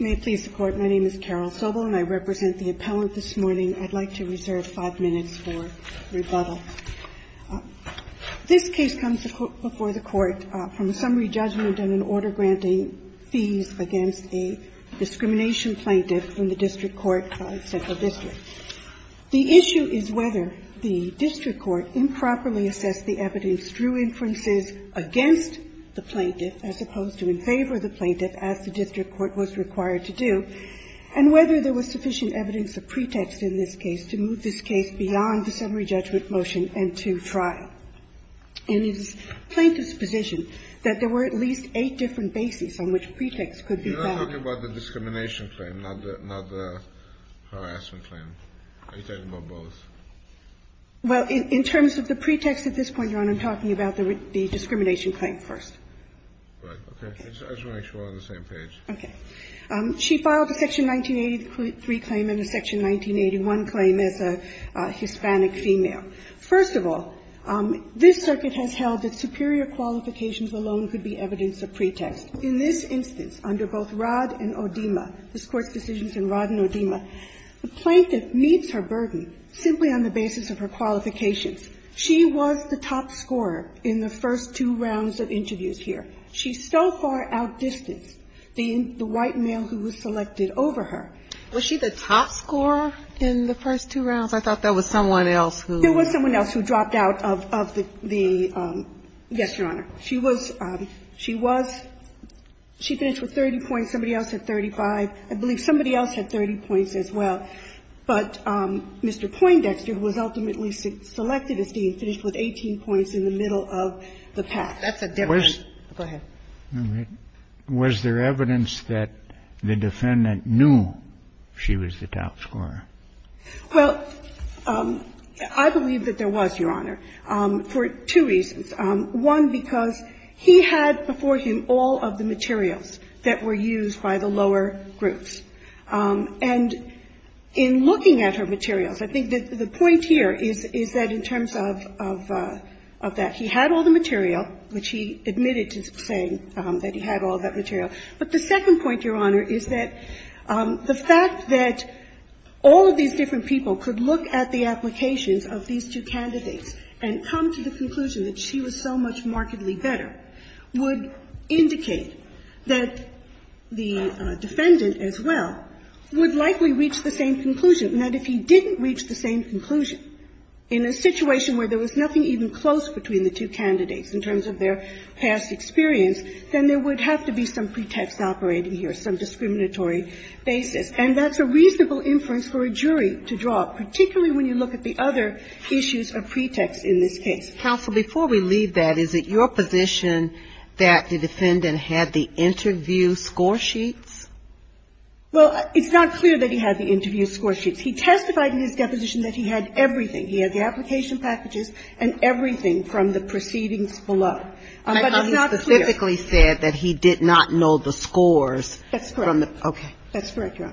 May it please the Court, my name is Carol Sobel, and I represent the appellant this morning. I'd like to reserve five minutes for rebuttal. This case comes before the Court from a summary judgment and an order granting fees against a discrimination plaintiff from the district court central district. The issue is whether the district court improperly assessed the evidence through inferences against the plaintiff, as opposed to in favor of the plaintiff, as the district court was required to do, and whether there was sufficient evidence of pretext in this case to move this case beyond the summary judgment motion and to trial. And it is plaintiff's position that there were at least eight different bases on which pretext could be found. Kennedy You're not talking about the discrimination claim, not the harassment claim. Are you talking about both? Sobel Well, in terms of the pretext at this point, Your Honor, I'm talking about the discrimination claim first. Kennedy Right, okay. I just want to make sure we're on the same page. Sobel Okay. She filed a section 1983 claim and a section 1981 claim as a Hispanic female. First of all, this circuit has held that superior qualifications alone could be evidence of pretext. In this instance, under both Rod and Odeema, this Court's decisions in Rod and Odeema, the plaintiff meets her burden simply on the basis of her qualifications. She was the top scorer in the first two rounds of interviews here. She's so far outdistanced the white male who was selected over her. Ginsburg Was she the top scorer in the first two rounds? I thought that was someone else who was. Sobel There was someone else who dropped out of the yes, Your Honor. She was, she was, she finished with 30 points. Somebody else had 35. I believe somebody else had 30 points as well. But Mr. Poindexter, who was ultimately selected, is being finished with 18 points in the middle of the pass. Ginsburg That's a different go ahead. Kennedy Was there evidence that the defendant knew she was the top scorer? Sobel Well, I believe that there was, Your Honor, for two reasons. One, because he had before him all of the materials that were used by the lower groups. And in looking at her materials, I think that the point here is, is that in terms of, of, of that, he had all the material, which he admitted to saying that he had all that material. But the second point, Your Honor, is that the fact that all of these different people could look at the applications of these two candidates and come to the conclusion that she was so much markedly better would indicate that the defendant as well, would likely reach the same conclusion. And that if he didn't reach the same conclusion in a situation where there was nothing even close between the two candidates in terms of their past experience, then there would have to be some pretext operating here, some discriminatory basis. And that's a reasonable inference for a jury to draw, particularly when you look at the other issues of pretext in this case. Kagan Council, before we leave that, is it your position that the defendant had the interview score sheets? Well, it's not clear that he had the interview score sheets. He testified in his deposition that he had everything. He had the application packages and everything from the proceedings below. But it's not clear. But he specifically said that he did not know the scores from the – okay. That's correct, Your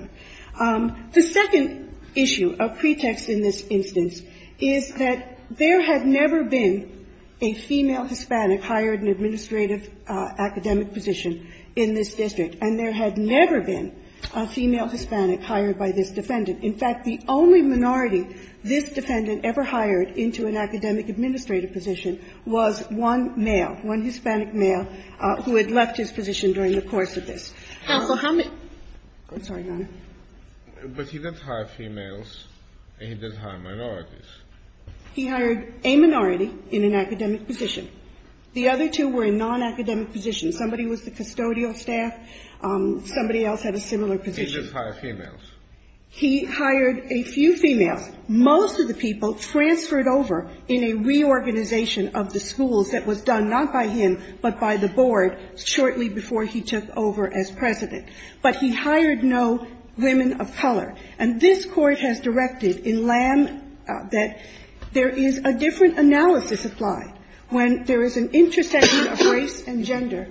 Honor. The second issue of pretext in this instance is that there had never been a female Hispanic hired in an administrative academic position in this district. And there had never been a female Hispanic hired by this defendant. In fact, the only minority this defendant ever hired into an academic administrative position was one male, one Hispanic male, who had left his position during the course of this. Counsel, how many – I'm sorry, Your Honor. But he doesn't hire females and he doesn't hire minorities. He hired a minority in an academic position. The other two were in nonacademic positions. Somebody was the custodial staff. Somebody else had a similar position. He didn't hire females. He hired a few females. Most of the people transferred over in a reorganization of the schools that was done not by him, but by the board shortly before he took over as president. But he hired no women of color. And this Court has directed in Lam that there is a different analysis applied when there is an intersection of race and gender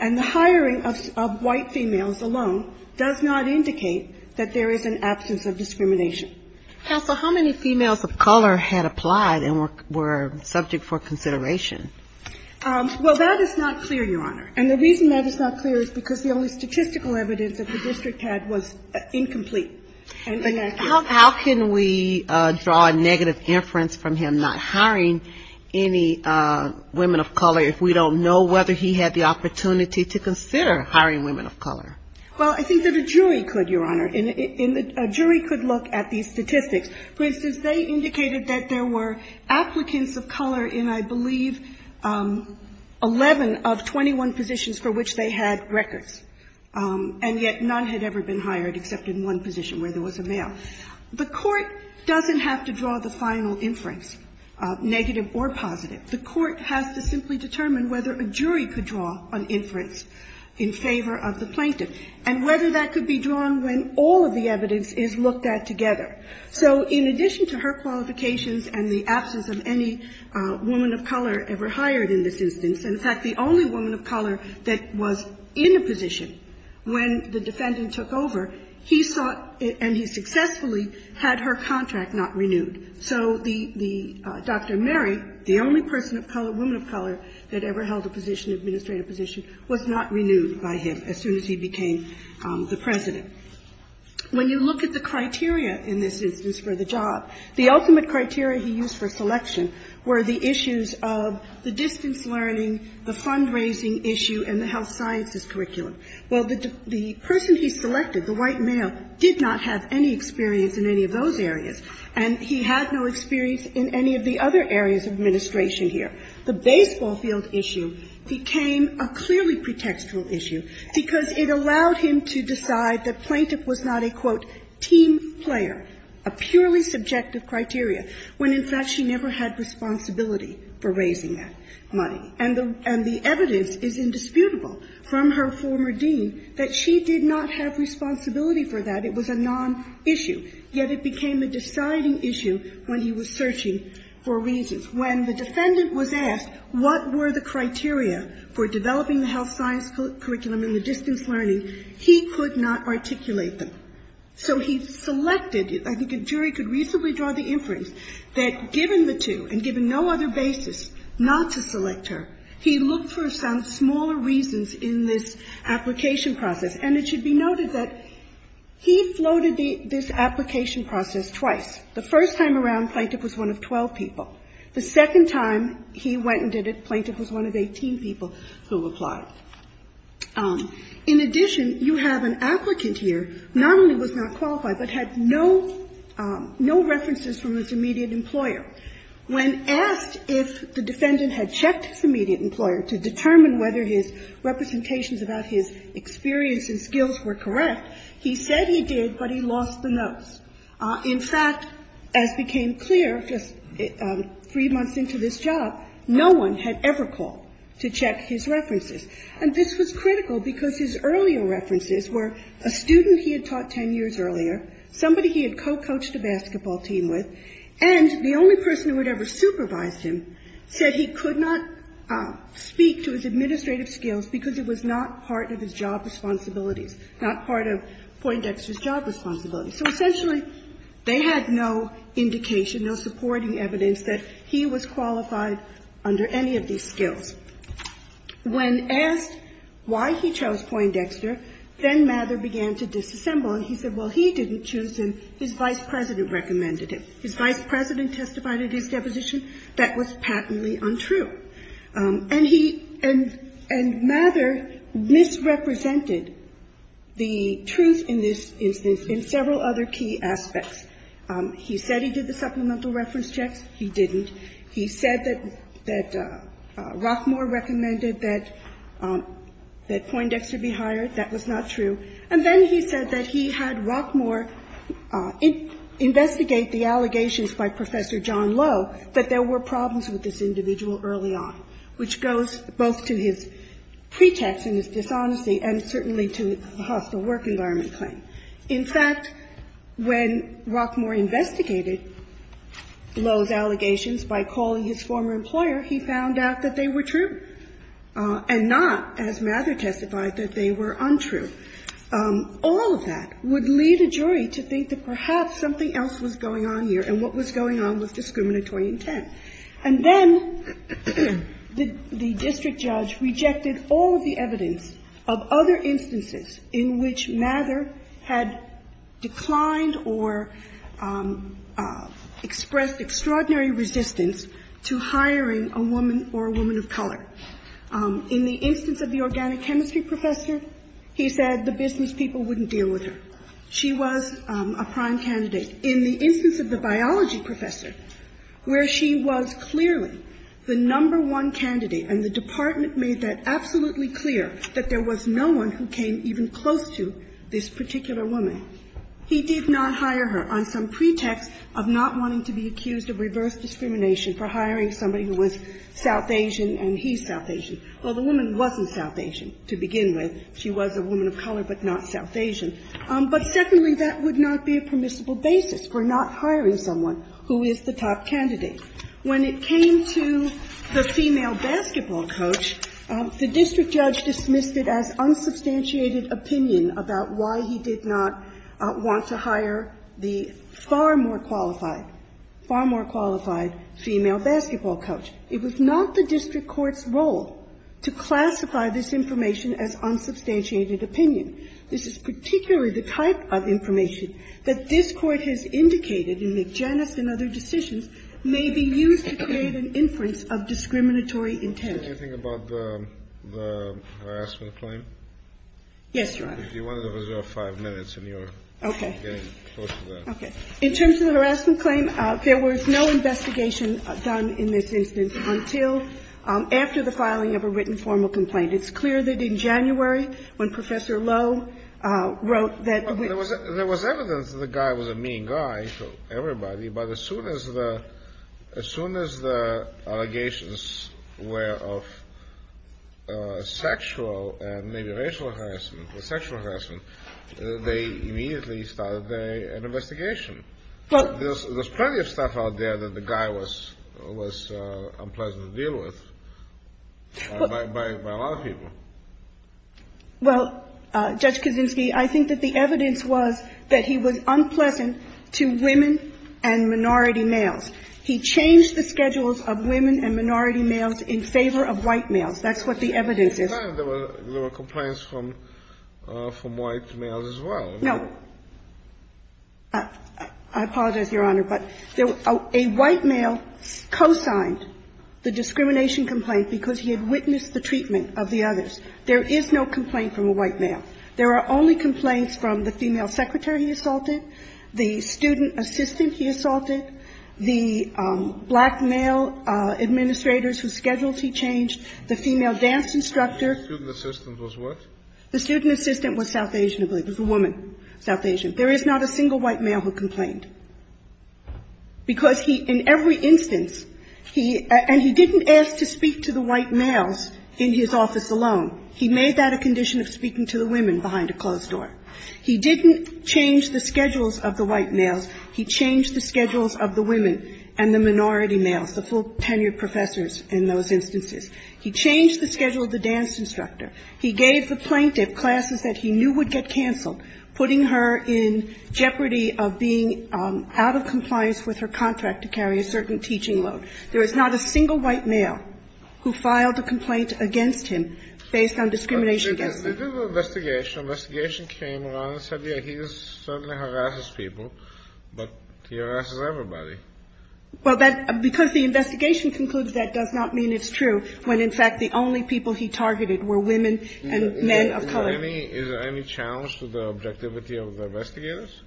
and the hiring of white females alone does not indicate that there is an absence of discrimination. Counsel, how many females of color had applied and were subject for consideration? Well, that is not clear, Your Honor. And the reason that is not clear is because the only statistical evidence that the district had was incomplete and inaccurate. How can we draw a negative inference from him not hiring any women of color if we don't know whether he had the opportunity to consider hiring women of color? Well, I think that a jury could, Your Honor. And a jury could look at these statistics. For instance, they indicated that there were applicants of color in, I believe, 11 of 21 positions for which they had records. And yet none had ever been hired except in one position where there was a male. The Court doesn't have to draw the final inference, negative or positive. The Court has to simply determine whether a jury could draw an inference in favor of the plaintiff and whether that could be drawn when all of the evidence is looked at together. So in addition to her qualifications and the absence of any woman of color ever hired in this instance, in fact, the only woman of color that was in a position when the defendant took over, he sought and he successfully had her contract not renewed. So the Dr. Mary, the only person of color, woman of color that ever held a position, administrative position, was not renewed by him as soon as he became the president. When you look at the criteria in this instance for the job, the ultimate criteria he used for selection were the issues of the distance learning, the fundraising issue, and the health sciences curriculum. Well, the person he selected, the white male, did not have any experience in any of those areas, and he had no experience in any of the other areas of administration here. The baseball field issue became a clearly pretextual issue because it allowed him to decide that plaintiff was not a, quote, team player, a purely subjective criteria, when in fact she never had responsibility for raising that money. And the, and the evidence is indisputable from her former dean that she did not have responsibility for that. It was a non-issue, yet it became a deciding issue when he was searching for reasons. When the defendant was asked what were the criteria for developing the health science curriculum in the distance learning, he could not articulate them. So he selected, I think a jury could reasonably draw the inference, that given the two, and given no other basis not to select her, he looked for some smaller reasons in this application process. And it should be noted that he floated this application process twice. The first time around, plaintiff was one of 12 people. The second time he went and did it, plaintiff was one of 18 people who applied. In addition, you have an applicant here, not only was not qualified, but had no, no references from his immediate employer. When asked if the defendant had checked his immediate employer to determine whether his representations about his experience and skills were correct, he said he did, but he lost the notes. In fact, as became clear just three months into this job, no one had ever called to check his references. And this was critical because his earlier references were a student he had taught 10 years earlier, somebody he had co-coached a basketball team with, and the only person who had ever supervised him said he could not speak to his administrative skills because it was not part of his job responsibilities, not part of Poindexter's job responsibilities. So essentially, they had no indication, no supporting evidence that he was qualified under any of these skills. When asked why he chose Poindexter, then Mather began to disassemble. And he said, well, he didn't choose him, his vice president recommended him. His vice president testified at his deposition that was patently untrue. And he and Mather misrepresented the truth in this instance in several other key aspects. He said he did the supplemental reference checks. He didn't. He said that Rockmore recommended that Poindexter be hired. That was not true. And then he said that he had Rockmore investigate the allegations by Professor John Lowe that there were problems with this individual early on, which goes both to his pretext and his dishonesty and certainly to the hostile work environment claim. In fact, when Rockmore investigated Lowe's allegations by calling his former employer, he found out that they were true and not, as Mather testified, that they were untrue. All of that would lead a jury to think that perhaps something else was going on here and what was going on was discriminatory intent. And then the district judge rejected all of the evidence of other instances in which Mather had declined or expressed extraordinary resistance to hiring a woman or a woman of color. In the instance of the organic chemistry professor, he said the business people wouldn't deal with her. She was a prime candidate. In the instance of the biology professor, where she was clearly the number one candidate and the department made that absolutely clear that there was no one who came even close to this particular woman, he did not hire her on some pretext of not wanting to be accused of reverse discrimination for hiring somebody who was South Asian and he's South Asian. Well, the woman wasn't South Asian to begin with. She was a woman of color, but not South Asian. But secondly, that would not be a permissible basis for not hiring someone who is the top candidate. When it came to the female basketball coach, the district judge dismissed it as unsubstantiated opinion about why he did not want to hire the far more qualified, far more qualified female basketball coach. It was not the district court's role to classify this information as unsubstantiated opinion. This is particularly the type of information that this Court has indicated in McJanus and other decisions may be used to create an inference of discriminatory intent. Kennedy, anything about the harassment claim? Yes, Your Honor. Okay. In terms of the harassment claim, there was no investigation done in this instance until after the filing of a written formal complaint. It's clear that in January, when Professor Lowe wrote that we was – There was evidence that the guy was a mean guy to everybody, but as soon as the – as soon as the allegations were of sexual and maybe racial harassment or sexual harassment, they immediately started an investigation. There's plenty of stuff out there that the guy was unpleasant to deal with by a lot of people. Well, Judge Kaczynski, I think that the evidence was that he was unpleasant to women and minority males. He changed the schedules of women and minority males in favor of white males. That's what the evidence is. I understand there were complaints from white males as well. No. I apologize, Your Honor, but a white male co-signed the discrimination complaint because he had witnessed the treatment of the others. There is no complaint from a white male. There are only complaints from the female secretary he assaulted, the student assistant he assaulted, the black male administrators whose schedules he changed, the female dance instructor. The student assistant was what? The student assistant was South Asian, I believe. It was a woman, South Asian. There is not a single white male who complained because he – in every instance, he – and he didn't ask to speak to the white males in his office alone. He made that a condition of speaking to the women behind a closed door. He didn't change the schedules of the white males. He changed the schedules of the women and the minority males, the full-tenured professors in those instances. He changed the schedule of the dance instructor. He gave the plaintiff classes that he knew would get canceled, putting her in jeopardy of being out of compliance with her contract to carry a certain teaching load. There is not a single white male who filed a complaint against him based on discrimination against them. But this is an investigation. Investigation came along and said, yes, he certainly harasses people, but he harasses everybody. Well, that – because the investigation concluded that does not mean it's true, when, in fact, the only people he targeted were women and men of color. Is there any – is there any challenge to the objectivity of the investigators?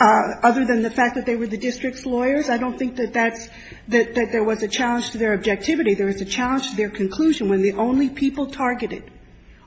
Other than the fact that they were the district's lawyers, I don't think that that's – that there was a challenge to their objectivity. There was a challenge to their conclusion. When the only people targeted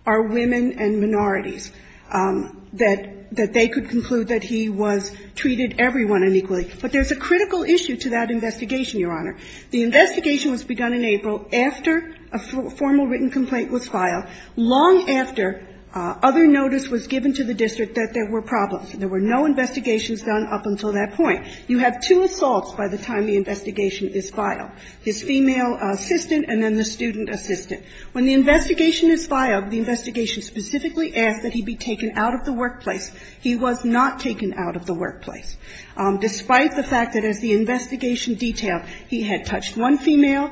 are women and minorities, that they could conclude that he was – treated everyone unequally. But there's a critical issue to that investigation, Your Honor. The investigation was begun in April after a formal written complaint was filed, long after other notice was given to the district that there were problems. There were no investigations done up until that point. You have two assaults by the time the investigation is filed, his female assistant and then the student assistant. When the investigation is filed, the investigation specifically asks that he be taken out of the workplace. He was not taken out of the workplace, despite the fact that, as the investigation detailed, he had touched one female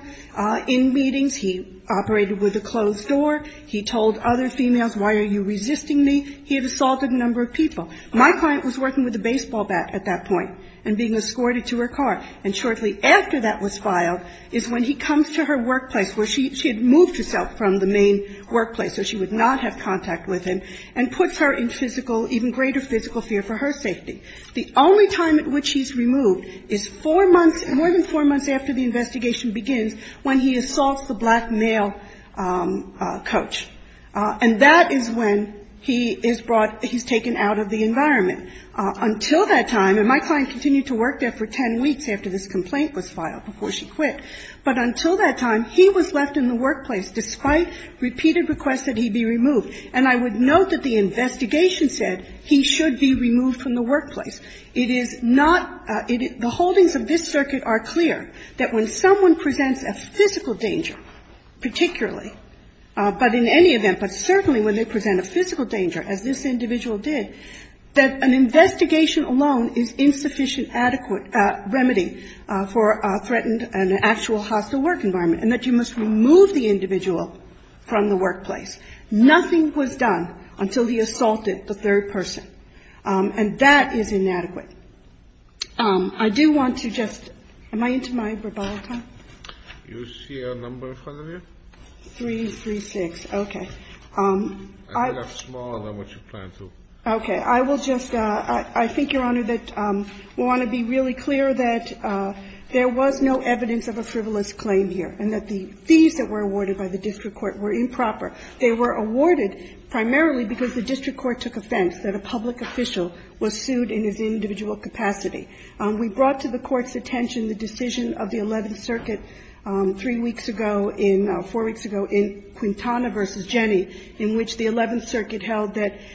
in meetings, he operated with a closed door, he told other females, why are you resisting me? He had assaulted a number of people. My client was working with a baseball bat at that point and being escorted to her car. And shortly after that was filed is when he comes to her workplace where she – she had moved herself from the main workplace, so she would not have contact with him, and puts her in physical – even greater physical fear for her safety. The only time at which he's removed is four months – more than four months after the investigation begins, when he assaults the black male coach. And that is when he is brought – he's taken out of the environment. Until that time – and my client continued to work there for ten weeks after this complaint was filed, before she quit. But until that time, he was left in the workplace, despite repeated requests that he be removed. And I would note that the investigation said he should be removed from the workplace. It is not – the holdings of this circuit are clear that when someone presents a physical danger, particularly, but in any event, but certainly when they present a physical danger, as this individual did, that an investigation alone is insufficient adequate remedy for a threatened and actual hostile work environment, and that you must remove the individual from the workplace. Nothing was done until he assaulted the third person. And that is inadequate. I do want to just – am I into my rebuttal time? You see a number in front of you? 336. Okay. I think I'm smaller than what you plan to. Okay. I will just – I think, Your Honor, that we want to be really clear that there was no evidence of a frivolous claim here, and that the fees that were awarded by the district court were improper. They were awarded primarily because the district court took offense that a public official was sued in his individual capacity. We brought to the Court's attention the decision of the Eleventh Circuit three weeks ago in – four weeks ago in Quintana v. Jenny, in which the Eleventh Circuit held that –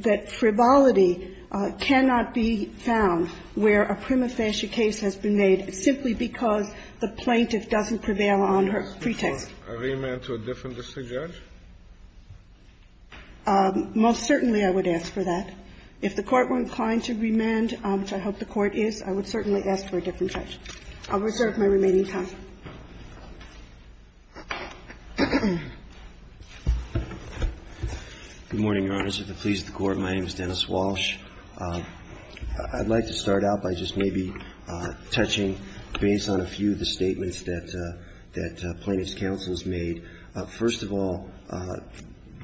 that frivolity cannot be found where a prima facie case has been made simply because the plaintiff doesn't prevail on her pretext. I would ask for a remand to a different district judge. Most certainly I would ask for that. If the Court weren't inclined to remand, which I hope the Court is, I would certainly ask for a different judge. I'll reserve my remaining time. Good morning, Your Honors. If it pleases the Court, my name is Dennis Walsh. I'd like to start out by just maybe touching, based on a few of the statements that plaintiff's counsels made. First of all,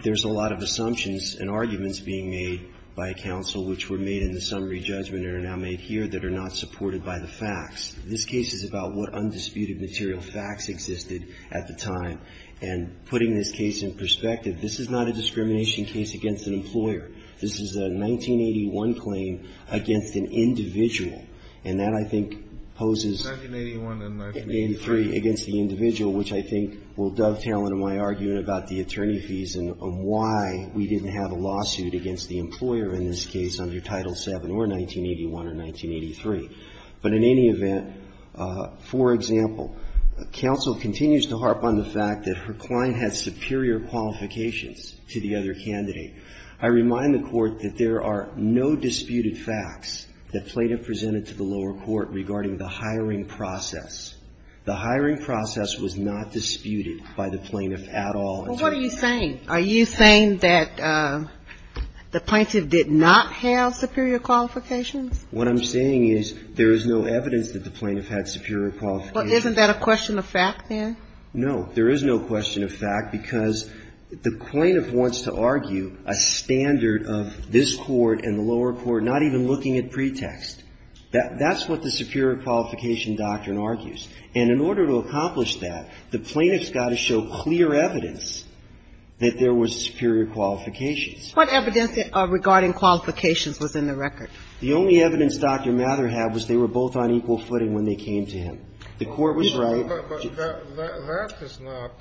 there's a lot of assumptions and arguments being made by counsel, which were made in the summary judgment and are now made here, that are not supported by the facts. This case is about what undisputed material facts existed at the time, and putting this case in perspective, this is not a discrimination case against an employer. This is a 1981 claim against an individual, and that, I think, poses – an inquiry against the individual, which I think will dovetail into my argument about the attorney fees and why we didn't have a lawsuit against the employer in this case under Title VII or 1981 or 1983. But in any event, for example, counsel continues to harp on the fact that her client had superior qualifications to the other candidate. I remind the Court that there are no disputed facts that plaintiff presented to the lower court regarding the hiring process. The hiring process was not disputed by the plaintiff at all. Well, what are you saying? Are you saying that the plaintiff did not have superior qualifications? What I'm saying is there is no evidence that the plaintiff had superior qualifications. Well, isn't that a question of fact then? No. There is no question of fact because the plaintiff wants to argue a standard of this court and the lower court not even looking at pretext. That's what the superior qualification doctrine argues. And in order to accomplish that, the plaintiff's got to show clear evidence that there was superior qualifications. What evidence regarding qualifications was in the record? The only evidence Dr. Mather had was they were both on equal footing when they came to him. The Court was right. But that is not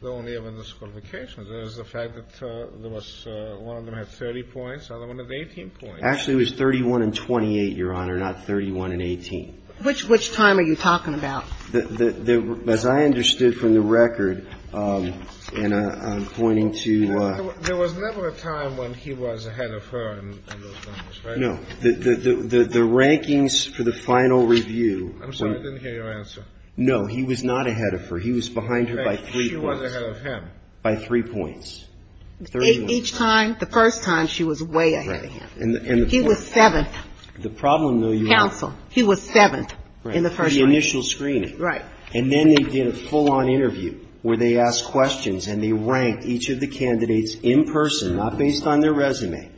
the only evidence of qualifications. There is the fact that there was – one of them had 30 points, the other one had 18 points. Actually, it was 31 and 28, Your Honor, not 31 and 18. Which time are you talking about? As I understood from the record, and I'm pointing to – There was never a time when he was ahead of her in those numbers, right? No. The rankings for the final review – I'm sorry, I didn't hear your answer. No, he was not ahead of her. He was behind her by three points. She was ahead of him. By three points. Each time, the first time, she was way ahead of him. He was seventh. The problem, though, Your Honor – Counsel, he was seventh in the first one. For the initial screening. Right. And then they did a full-on interview where they asked questions and they ranked each of the candidates in person, not based on their resume.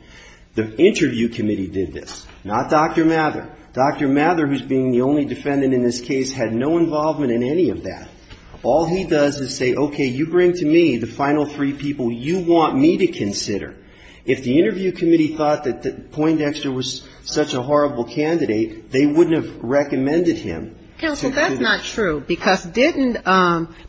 The interview committee did this, not Dr. Mather. Dr. Mather, who's being the only defendant in this case, had no involvement in any of that. All he does is say, okay, you bring to me the final three people you want me to consider. If the interview committee thought that Poindexter was such a horrible candidate, they wouldn't have recommended him. Counsel, that's not true. Because didn't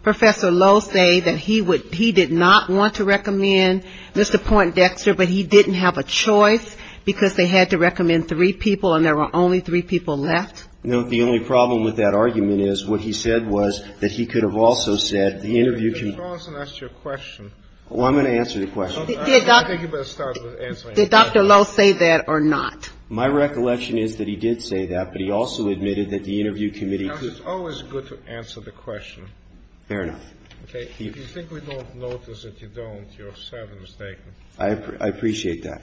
Professor Lowe say that he did not want to recommend Mr. Poindexter, but he didn't have a choice because they had to recommend three people and there were only three people left? No. The only problem with that argument is what he said was that he could have also said the interview – Mr. Carlson asked you a question. Well, I'm going to answer the question. Did Dr. Lowe say that or not? My recollection is that he did say that, but he also admitted that the interview committee – Counsel, it's always good to answer the question. Fair enough. Okay. If you think we don't notice that you don't, you're sadly mistaken. I appreciate that.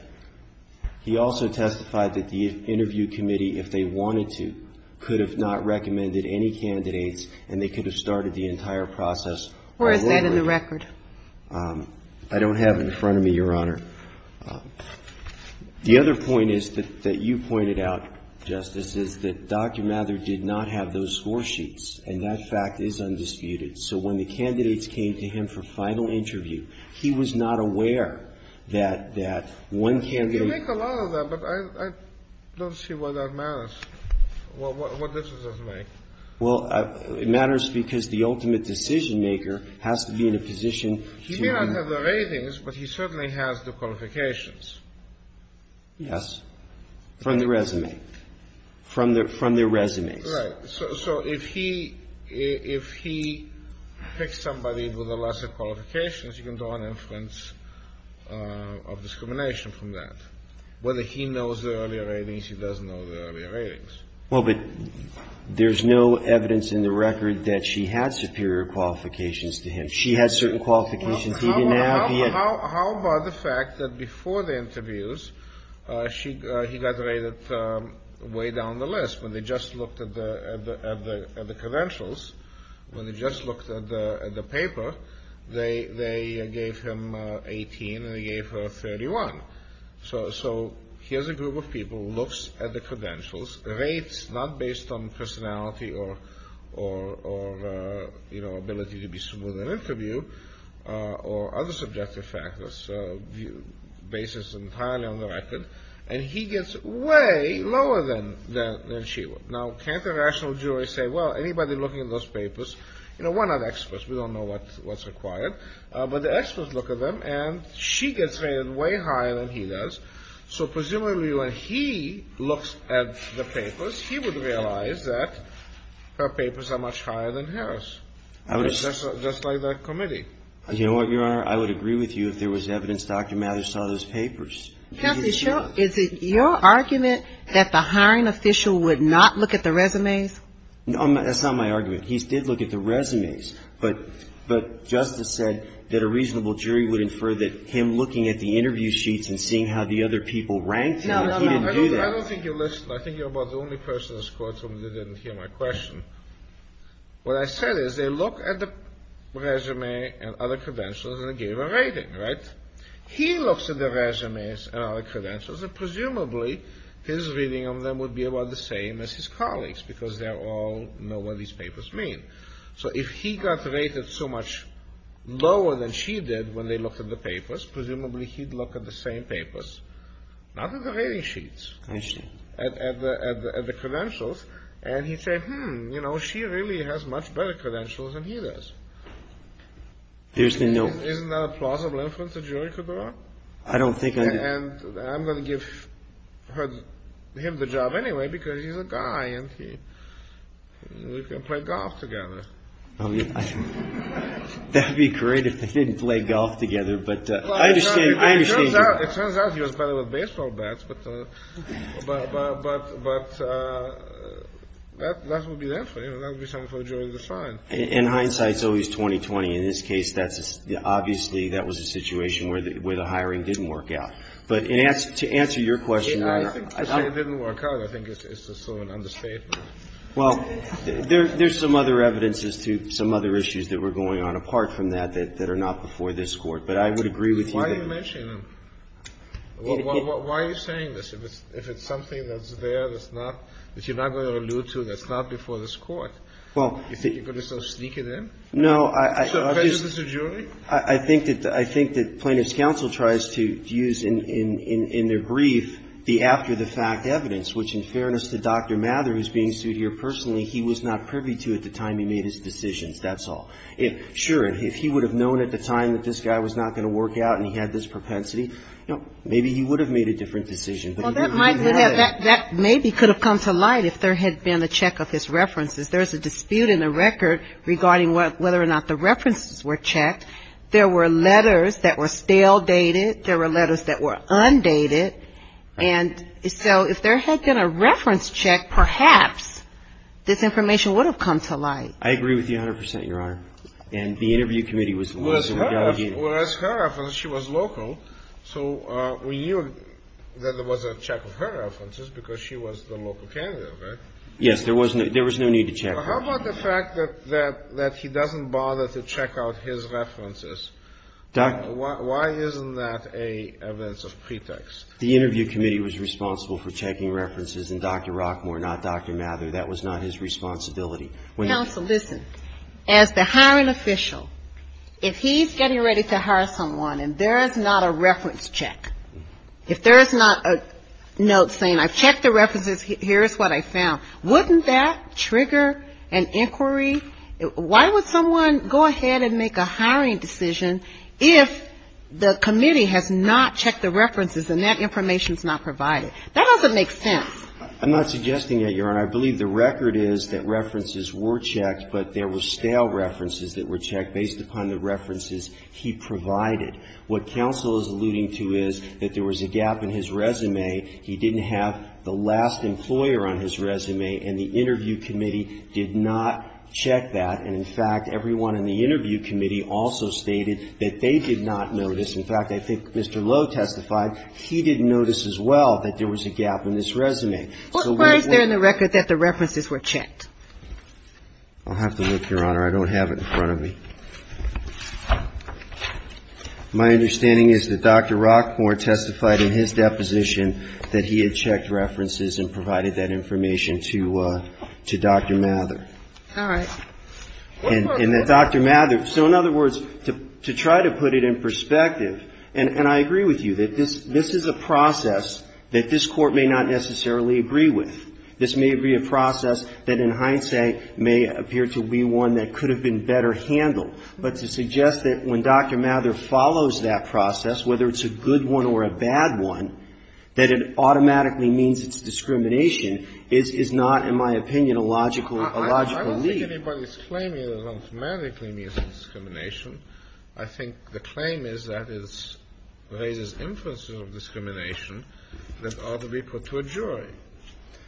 He also testified that the interview committee, if they wanted to, could have not recommended any candidates and they could have started the entire process Where is that in the record? I don't have it in front of me, Your Honor. The other point is that you pointed out, Justice, is that Dr. Mather did not have those score sheets, and that fact is undisputed. So when the candidates came to him for final interview, he was not aware that one candidate – You make a lot of that, but I don't see why that matters, what this does make. Well, it matters because the ultimate decision-maker has to be in a position to – He may not have the ratings, but he certainly has the qualifications. Yes, from the resume, from their resumes. Right. So if he picks somebody with a lesser qualification, you can draw an inference of discrimination from that. Whether he knows the early ratings, he doesn't know the early ratings. Well, but there's no evidence in the record that she had superior qualifications to him. She had certain qualifications he didn't have, yet – How about the fact that before the interviews, he got rated way down the list? When they just looked at the credentials, when they just looked at the paper, they gave him 18 and they gave her 31. So here's a group of people who looks at the credentials, rates not based on personality or ability to be smooth in an interview, or other subjective factors, basis entirely on the record, and he gets way lower than she would. Now, can't a rational jury say, well, anybody looking at those papers – You know, we're not experts, we don't know what's required, but the experts look at them, and she gets rated way higher than he does. So presumably, when he looks at the papers, he would realize that her papers are much higher than hers, just like the committee. You know what, Your Honor? I would agree with you if there was evidence Dr. Mathers saw those papers. Counsel, is it your argument that the hiring official would not look at the resumes? No, that's not my argument. He did look at the resumes, but Justice said that a reasonable jury would infer that him looking at the interview sheets and seeing how the other people ranked him, he didn't do that. No, no, no. I don't think you listened. I think you're about the only person in this courtroom that didn't hear my question. What I said is, they look at the resume and other credentials and they gave a rating, right? He looks at the resumes and other credentials, and presumably, his reading of them would be about the same as his colleagues, because they all know what these papers mean. So if he got rated so much lower than she did when they looked at the papers, presumably, he'd look at the same papers, not at the rating sheets, at the credentials, and he'd say, hmm, you know, she really has much better credentials than he does. There's the note. Isn't that a plausible inference a jury could draw? I don't think I'd... And I'm going to give him the job anyway, because he's a guy and we can play golf together. That would be great if they didn't play golf together, but I understand. It turns out he was better with baseball bats, but that would be there for him. That would be something for the jury to decide. In hindsight, it's always 20-20. In this case, obviously, that was a situation where the hiring didn't work out. But to answer your question, Your Honor, I think it didn't work out. I think it's just sort of an understatement. Well, there's some other evidence as to some other issues that were going on apart from that that are not before this Court. But I would agree with you that... Why are you mentioning them? Why are you saying this? If it's something that's there that's not, that you're not going to allude to, that's not before this Court, you think you could just sort of sneak it in? No. So prejudice is a jury? I think that plaintiff's counsel tries to use in their brief the after-the-fact evidence, which in fairness to Dr. Mather, who's being sued here personally, he was not privy to at the time he made his decisions, that's all. Sure, if he would have known at the time that this guy was not going to work out and he had this propensity, maybe he would have made a different decision. Well, that maybe could have come to light if there had been a check of his references. There's a dispute in the record regarding whether or not the references were checked. There were letters that were stale dated. There were letters that were undated. And so if there had been a reference check, perhaps this information would have come to light. I agree with you 100%, Your Honor. And the interview committee was... Whereas her reference, she was local, so we knew that there was a check of her references because she was the local candidate, right? Yes, there was no need to check her. How about the fact that he doesn't bother to check out his references? Why isn't that an evidence of pretext? The interview committee was responsible for checking references, and Dr. Rockmore, not Dr. Mather, that was not his responsibility. Counsel, listen. As the hiring official, if he's getting ready to hire someone and there is not a reference check, if there is not a note saying, I've checked the references, here is what I found, wouldn't that trigger an inquiry? Why would someone go ahead and make a hiring decision if the committee has not checked the references and that information is not provided? That doesn't make sense. I'm not suggesting that, Your Honor. I believe the record is that references were checked, but there were stale references that were checked based upon the references he provided. What counsel is alluding to is that there was a gap in his resume. He didn't have the last employer on his resume, and the interview committee did not check that. And, in fact, everyone in the interview committee also stated that they did not notice. In fact, I think Mr. Lowe testified, he didn't notice as well that there was a gap in his resume. Where is there in the record that the references were checked? I'll have to look, Your Honor. I don't have it in front of me. My understanding is that Dr. Rockmore testified in his deposition that he had checked references and provided that information to Dr. Mather. All right. And that Dr. Mather, so in other words, to try to put it in perspective, and I agree with you, that this is a process that this Court may not necessarily agree with. This may be a process that in hindsight may appear to be one that could have been better handled. But to suggest that when Dr. Mather follows that process, whether it's a good one or a bad one, that it automatically means it's discrimination is not, in my opinion, a logical, a logical lead. I don't think anybody's claiming it automatically means discrimination. I think the claim is that it raises inferences of discrimination that ought to be put to a jury.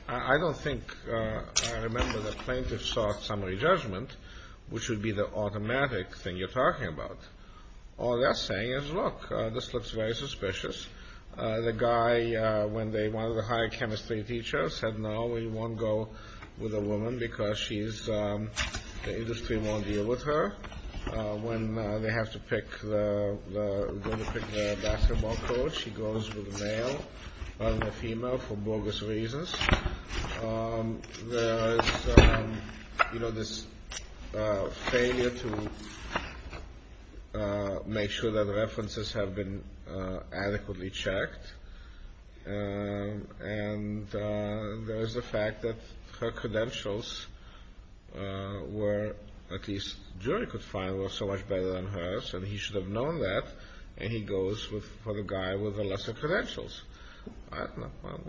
I don't think I remember the plaintiff's short summary judgment, which would be the automatic thing you're talking about. All they're saying is, look, this looks very suspicious. The guy, when they wanted a higher chemistry teacher, said, no, he won't go with a woman because she's, the industry won't deal with her. When they have to pick the basketball coach, he goes with a male and a female for bogus reasons. There is, you know, this failure to make sure that references have been adequately checked. And there's the fact that her credentials were, at least the jury could find, were so much better than hers, and he should have known that, and he goes for the guy with the lesser credentials.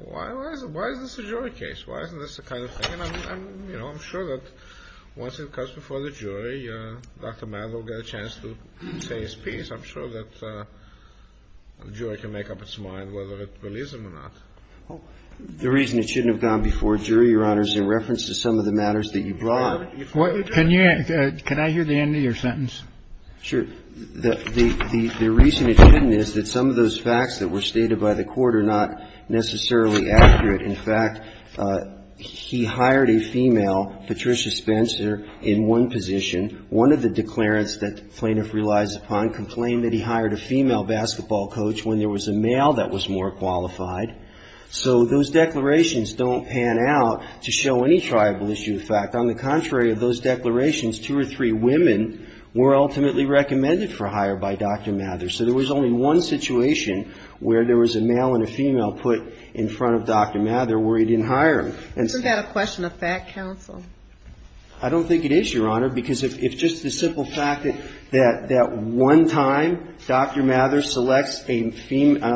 Why is this a jury case? Why isn't this the kind of thing? I'm sure that once it comes before the jury, Dr. Maddow will get a chance to say his piece. I'm sure that the jury can make up its mind whether it believes him or not. The reason it shouldn't have gone before a jury, Your Honor, is in reference to some of the matters that you brought up. Can I hear the end of your sentence? Sure. The reason it shouldn't is that some of those facts that were stated by the court are not necessarily accurate. In fact, he hired a female, Patricia Spencer, in one position. One of the declarants that the plaintiff relies upon complained that he hired a female basketball coach when there was a male that was more qualified. So those declarations don't pan out to show any tribal issue. In fact, on the contrary of those declarations, two or three women were ultimately recommended for hire by Dr. Maddow. So there was only one situation where there was a male and a female put in front of Dr. Maddow where he didn't hire them. Is that a question of fact, counsel? I don't think it is, Your Honor, because if just the simple fact that one time Dr. Maddow selects a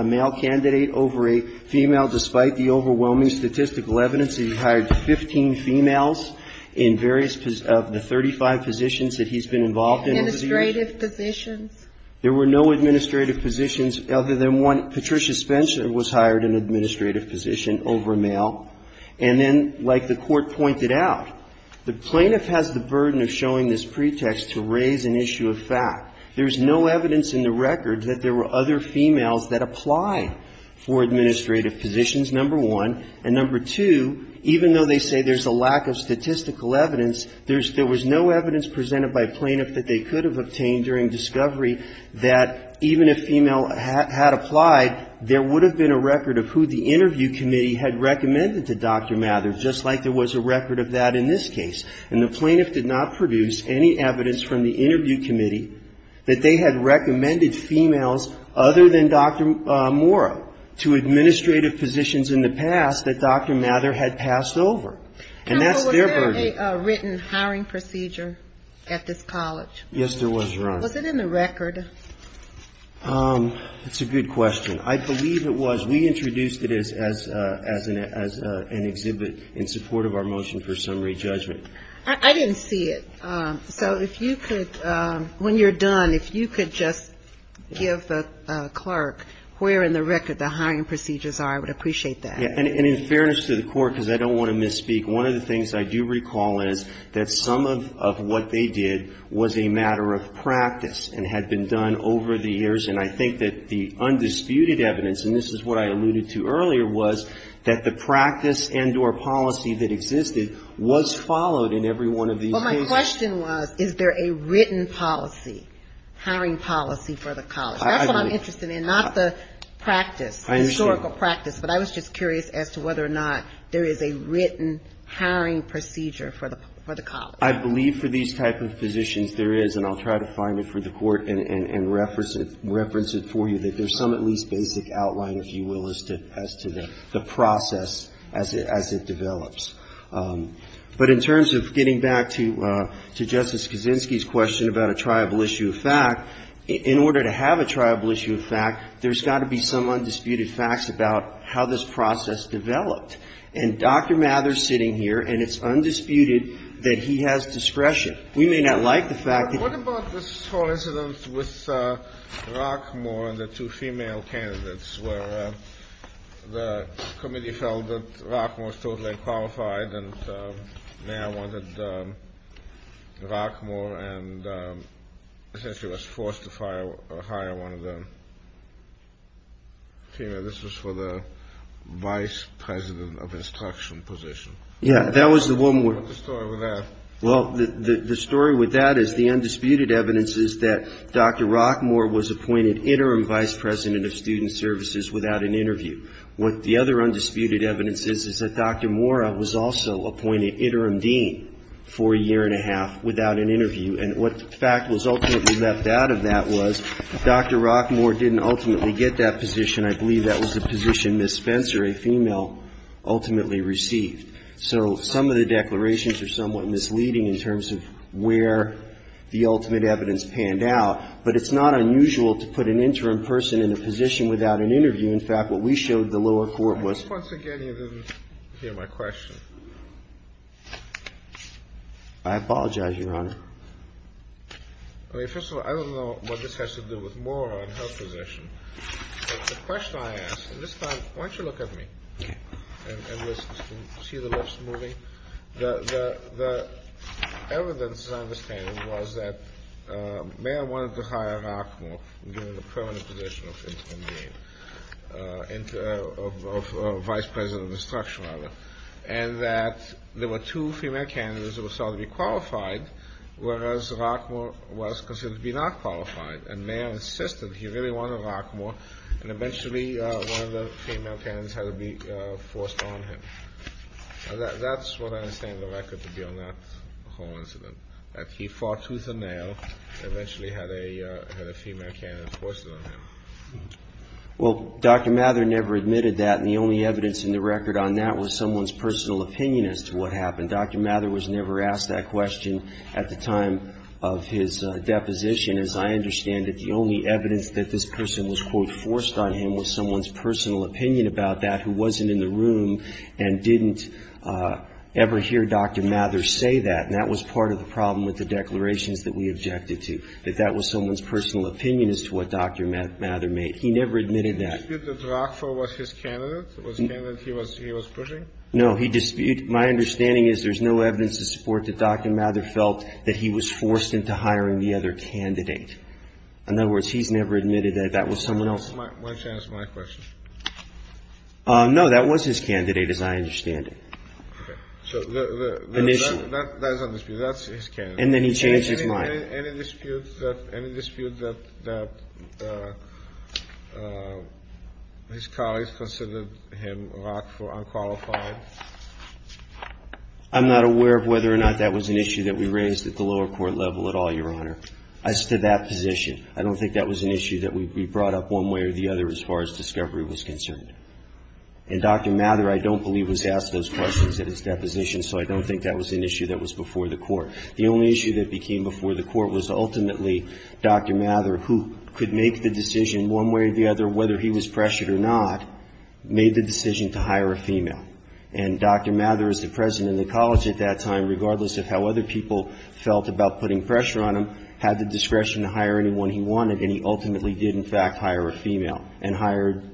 male candidate over a female, despite the overwhelming statistical evidence that he hired 15 females in various of the 35 positions that he's been involved in. Administrative positions. There were no administrative positions other than one, Patricia Spencer was hired an administrative position over a male. And then, like the court pointed out, the plaintiff has the burden of showing this pretext to raise an issue of fact. There's no evidence in the record that there were other females that apply for administrative positions, number one. And number two, even though they say there's a lack of statistical evidence, there's no evidence presented by a plaintiff that they could have obtained during discovery that even if female had applied, there would have been a record of who the interview committee had recommended to Dr. Maddow, just like there was a record of that in this case. And the plaintiff did not produce any evidence from the interview committee that they had recommended females other than Dr. Morrow to administrative positions in the past that Dr. Maddow had passed over. And that's their burden. Counsel, was there a written hiring procedure at this college? Yes, there was, Your Honor. Was it in the record? It's a good question. I believe it was. We introduced it as an exhibit in support of our motion for summary judgment. I didn't see it. So if you could, when you're done, if you could just give the clerk where in the record the hiring procedures are, I would appreciate that. And in fairness to the court, because I don't want to misspeak, one of the things I do recall is that some of what they did was a matter of practice and had been done over the years. And I think that the undisputed evidence, and this is what I alluded to earlier, was that the practice and or policy that existed was followed in every one of these cases. Well, my question was, is there a written policy, hiring policy for the college? That's what I'm interested in, not the practice, historical practice. I understand. But I was just curious as to whether or not there is a written hiring procedure for the college. I believe for these type of positions there is, and I'll try to find it for the court and reference it for you, that there's some at least basic outline, if you will, as to the process as it develops. But in terms of getting back to Justice Kaczynski's question about a triable issue of fact, in order to have a triable issue of fact, there's got to be some undisputed facts about how this process developed. And Dr. Mather's sitting here, and it's undisputed that he has discretion. We may not like the fact that he has discretion. What about this whole incident with Rockmore and the two female candidates where the committee felt that Rockmore was totally unqualified and now wanted Rockmore and essentially was forced to hire one of the female. This was for the vice president of instruction position. Yeah, that was the woman. What's the story with that? Well, the story with that is the undisputed evidence is that Dr. Rockmore was appointed interim vice president of student services without an interview. What the other undisputed evidence is, is that Dr. Mora was also appointed interim dean for a year and a half without an interview. And what fact was ultimately left out of that was Dr. Rockmore didn't ultimately get that position. I believe that was the position Ms. Spencer, a female, ultimately received. So some of the declarations are somewhat misleading in terms of where the ultimate evidence panned out. But it's not unusual to put an interim person in a position without an interview. In fact, what we showed the lower court was. Once again, you didn't hear my question. I apologize, Your Honor. First of all, I don't know what this has to do with Mora and her position. But the question I ask, at this time, why don't you look at me and see the lips moving. The evidence, as I understand it, was that Mora wanted to hire Rockmore, given the permanent position of interim dean, of vice president of instruction, rather. And that there were two female candidates that were sought to be qualified, whereas Rockmore was considered to be not qualified. And Mora insisted he really wanted Rockmore. And eventually, one of the female candidates had to be forced on him. That's what I understand the record to be on that whole incident, that he fought tooth and nail and eventually had a female candidate forced on him. Well, Dr. Mather never admitted that. And the only evidence in the record on that was someone's personal opinion as to what happened. Dr. Mather was never asked that question at the time of his deposition. As I understand it, the only evidence that this person was, quote, forced on him was someone's personal opinion about that, who wasn't in the room and didn't ever hear Dr. Mather say that. And that was part of the problem with the declarations that we objected to, that that was someone's personal opinion as to what Dr. Mather made. He never admitted that. Did he dispute that Rockmore was his candidate, the candidate he was pushing? No, my understanding is there's no evidence to support that Dr. Mather felt that he was forced into hiring the other candidate. In other words, he's never admitted that that was someone else. Why don't you answer my question? No, that was his candidate, as I understand it. Okay. Initially. That's his candidate. And then he changed his mind. Any dispute that his colleagues considered him Rock for unqualified? I'm not aware of whether or not that was an issue that we raised at the lower court level at all, Your Honor. I stood that position. I don't think that was an issue that we brought up one way or the other as far as discovery was concerned. And Dr. Mather, I don't believe, was asked those questions at his deposition, so I don't think that was an issue that was before the court. The only issue that became before the court was ultimately Dr. Mather, who could make the decision one way or the other, whether he was pressured or not, made the decision to hire a female. And Dr. Mather, as the president of the college at that time, regardless of how other people felt about putting pressure on him, had the discretion to hire anyone he wanted, and he ultimately did, in fact, hire a female, and hired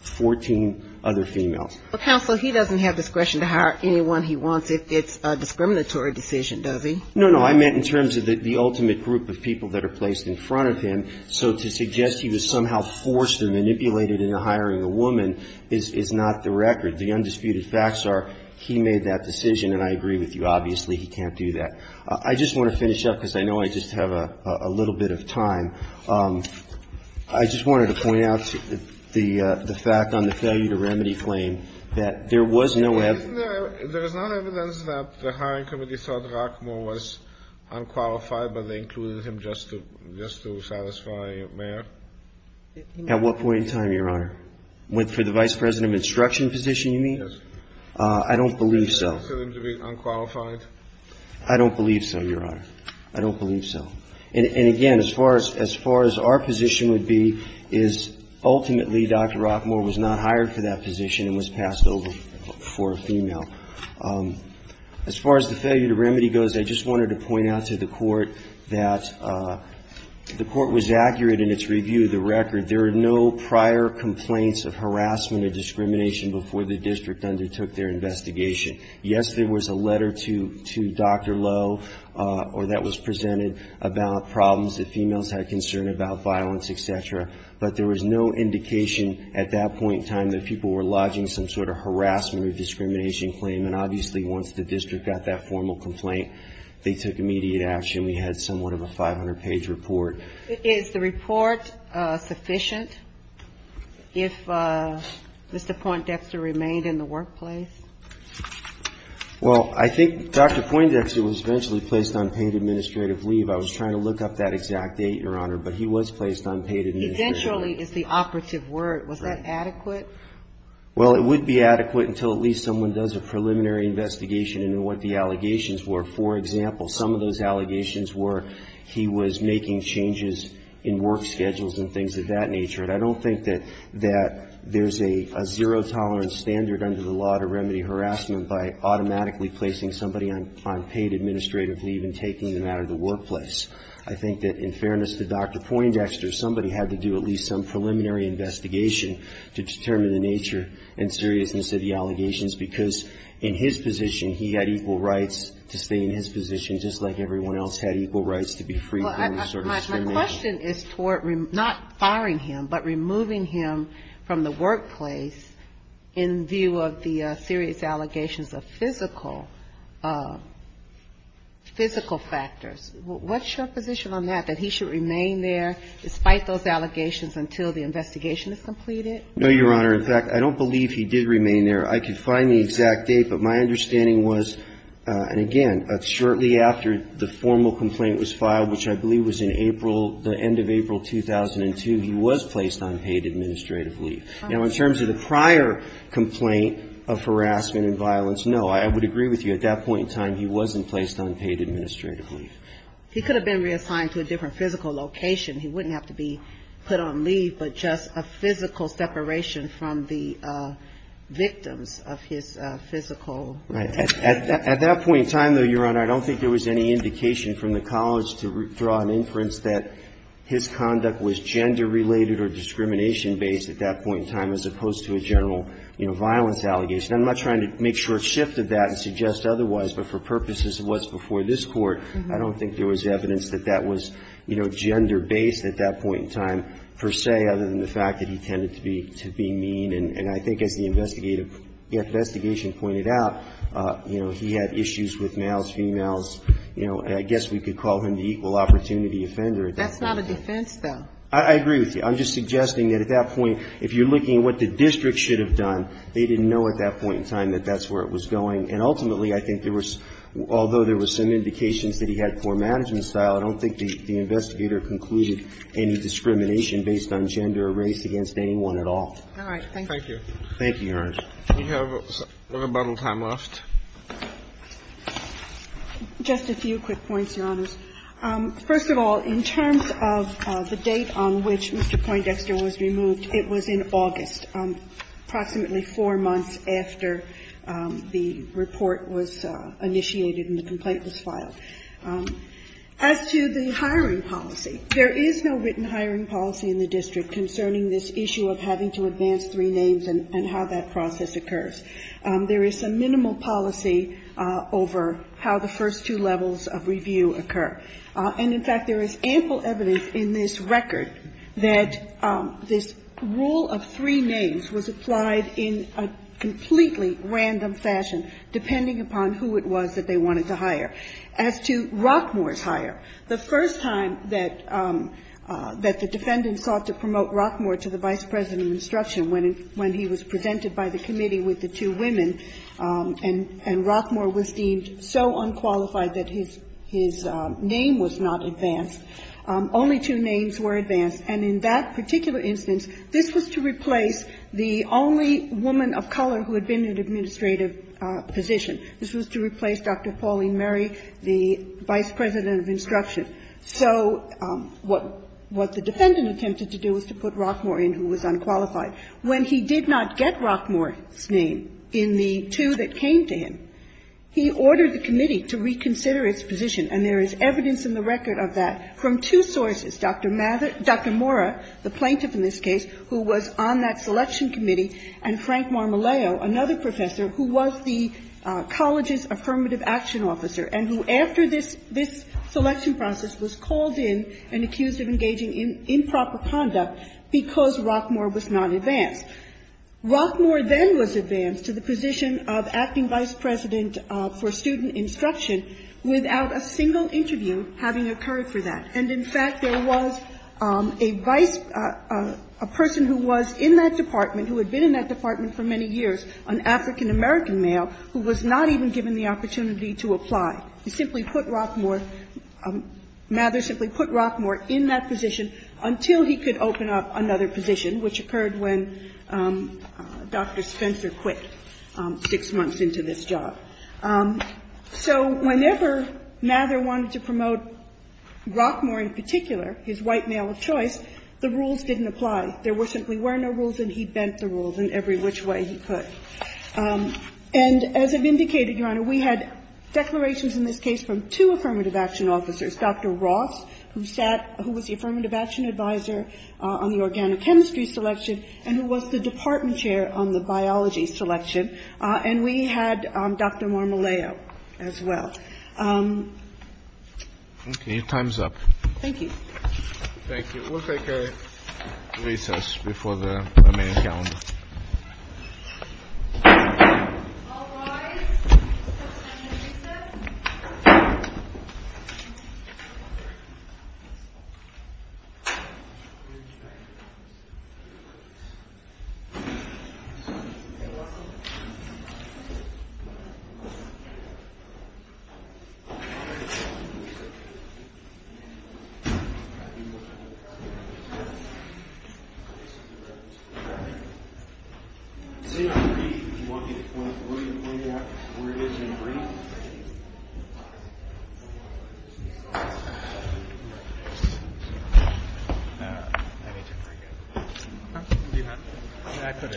14 other females. But, Counselor, he doesn't have discretion to hire anyone he wants if it's a discriminatory decision, does he? No, no. I meant in terms of the ultimate group of people that are placed in front of him. So to suggest he was somehow forced or manipulated into hiring a woman is not the record. The undisputed facts are he made that decision, and I agree with you, obviously, he can't do that. I just want to finish up, because I know I just have a little bit of time. I just wanted to point out the fact on the failure to remedy claim that there was no evidence. Isn't there evidence that the hiring committee thought Rockmore was unqualified, but they included him just to satisfy Mayer? At what point in time, Your Honor? For the vice president of instruction position, you mean? Yes. I don't believe so. For them to be unqualified? I don't believe so, Your Honor. I don't believe so. And, again, as far as our position would be, is ultimately Dr. Rockmore was not hired for that position and was passed over for a female. As far as the failure to remedy goes, I just wanted to point out to the Court that the Court was accurate in its review of the record. There are no prior complaints of harassment or discrimination before the district undertook their investigation. Yes, there was a letter to Dr. Lowe, or that was presented, about problems that females had, concern about violence, et cetera. But there was no indication at that point in time that people were lodging some sort of harassment or discrimination claim. And, obviously, once the district got that formal complaint, they took immediate action. We had somewhat of a 500-page report. Is the report sufficient if Mr. Poindexter remained in the workplace? Well, I think Dr. Poindexter was eventually placed on paid administrative leave. I was trying to look up that exact date, Your Honor, but he was placed on paid administrative leave. Eventually is the operative word. Was that adequate? Well, it would be adequate until at least someone does a preliminary investigation into what the allegations were. For example, some of those allegations were he was making changes in work schedules and things of that nature. And I don't think that there's a zero-tolerance standard under the law to remedy harassment by automatically placing somebody on paid administrative leave and taking them out of the workplace. I think that, in fairness to Dr. Poindexter, somebody had to do at least some preliminary investigation to determine the nature and seriousness of the allegations because in his position he had equal rights to stay in his position just like everyone else had equal rights to be free from certain discrimination. My question is toward not firing him but removing him from the workplace in view of the serious allegations of physical factors. What's your position on that, that he should remain there despite those allegations until the investigation is completed? No, Your Honor. In fact, I don't believe he did remain there. I could find the exact date, but my understanding was, and again, shortly after the formal complaint was filed, which I believe was in April, the end of April 2002, he was placed on paid administrative leave. Now, in terms of the prior complaint of harassment and violence, no, I would agree with you. At that point in time, he wasn't placed on paid administrative leave. He could have been reassigned to a different physical location. He wouldn't have to be put on leave but just a physical separation from the victims of his physical... Right. At that point in time, though, Your Honor, I don't think there was any indication from the college to draw an inference that his conduct was gender-related or discrimination-based at that point in time as opposed to a general, you know, violence allegation. I'm not trying to make short shift of that and suggest otherwise, but for purposes of what's before this Court, I don't think there was evidence that that was, you know, gender-based at that point in time per se. Other than the fact that he tended to be mean and I think as the investigation pointed out, you know, he had issues with males, females, you know, and I guess we could call him the equal opportunity offender. That's not a defense, though. I agree with you. I'm just suggesting that at that point, if you're looking at what the district should have done, they didn't know at that point in time that that's where it was going. And ultimately, I think there was, although there were some indications that he had poor management style, I don't think the investigator concluded any discrimination based on gender or race against anyone at all. All right. Thank you. Thank you. Thank you, Your Honor. We have a little time left. Just a few quick points, Your Honors. First of all, in terms of the date on which Mr. Poindexter was removed, it was in August, approximately four months after the report was initiated and the complaint was filed. As to the hiring policy, there is no written hiring policy in the district concerning this issue of having to advance three names and how that process occurs. There is some minimal policy over how the first two levels of review occur. And in fact, there is ample evidence in this record that this rule of three names was applied in a completely random fashion, depending upon who it was that they wanted to hire. As to Rockmore's hire, the first time that the defendant sought to promote Rockmore to the vice president of instruction when he was presented by the committee with the two women and Rockmore was deemed so unqualified that his name was not advanced, only two names were advanced. And in that particular instance, this was to replace the only woman of color who had been in an administrative position. This was to replace Dr. Pauline Murray, the vice president of instruction. So what the defendant attempted to do was to put Rockmore in who was unqualified. When he did not get Rockmore's name in the two that came to him, he ordered the committee to reconsider its position. And there is evidence in the record of that from two sources, Dr. Mora, the plaintiff in this case, who was on that selection committee, and Frank Marmoleo, another professor who was the college's affirmative action officer and who, after this selection process, was called in and accused of engaging in improper conduct because Rockmore was not advanced. Rockmore then was advanced to the position of acting vice president for student instruction without a single interview having occurred for that. And in fact, there was a vice... a person who was in that department, who had been in that department for many years, an African-American male, who was not even given the opportunity to apply. He simply put Rockmore... Mather simply put Rockmore in that position until he could open up another position, which occurred when Dr. Spencer quit six months into this job. So whenever Mather wanted to promote Rockmore in particular, his white male of choice, the rules didn't apply. There simply were no rules, And as I've indicated, Your Honor, we had declarations in this case from two affirmative action officers, Dr. Ross, who sat... who was the affirmative action advisor on the organic chemistry selection and who was the department chair on the biology selection, and we had Dr. Marmoleo as well. Okay, your time's up. Thank you. Thank you. We'll take a recess before the remaining calendar. All rise. We'll take a recess. Stand and breathe. If you want me to point you out where it is you need to breathe. I need you to breathe. Do you have it?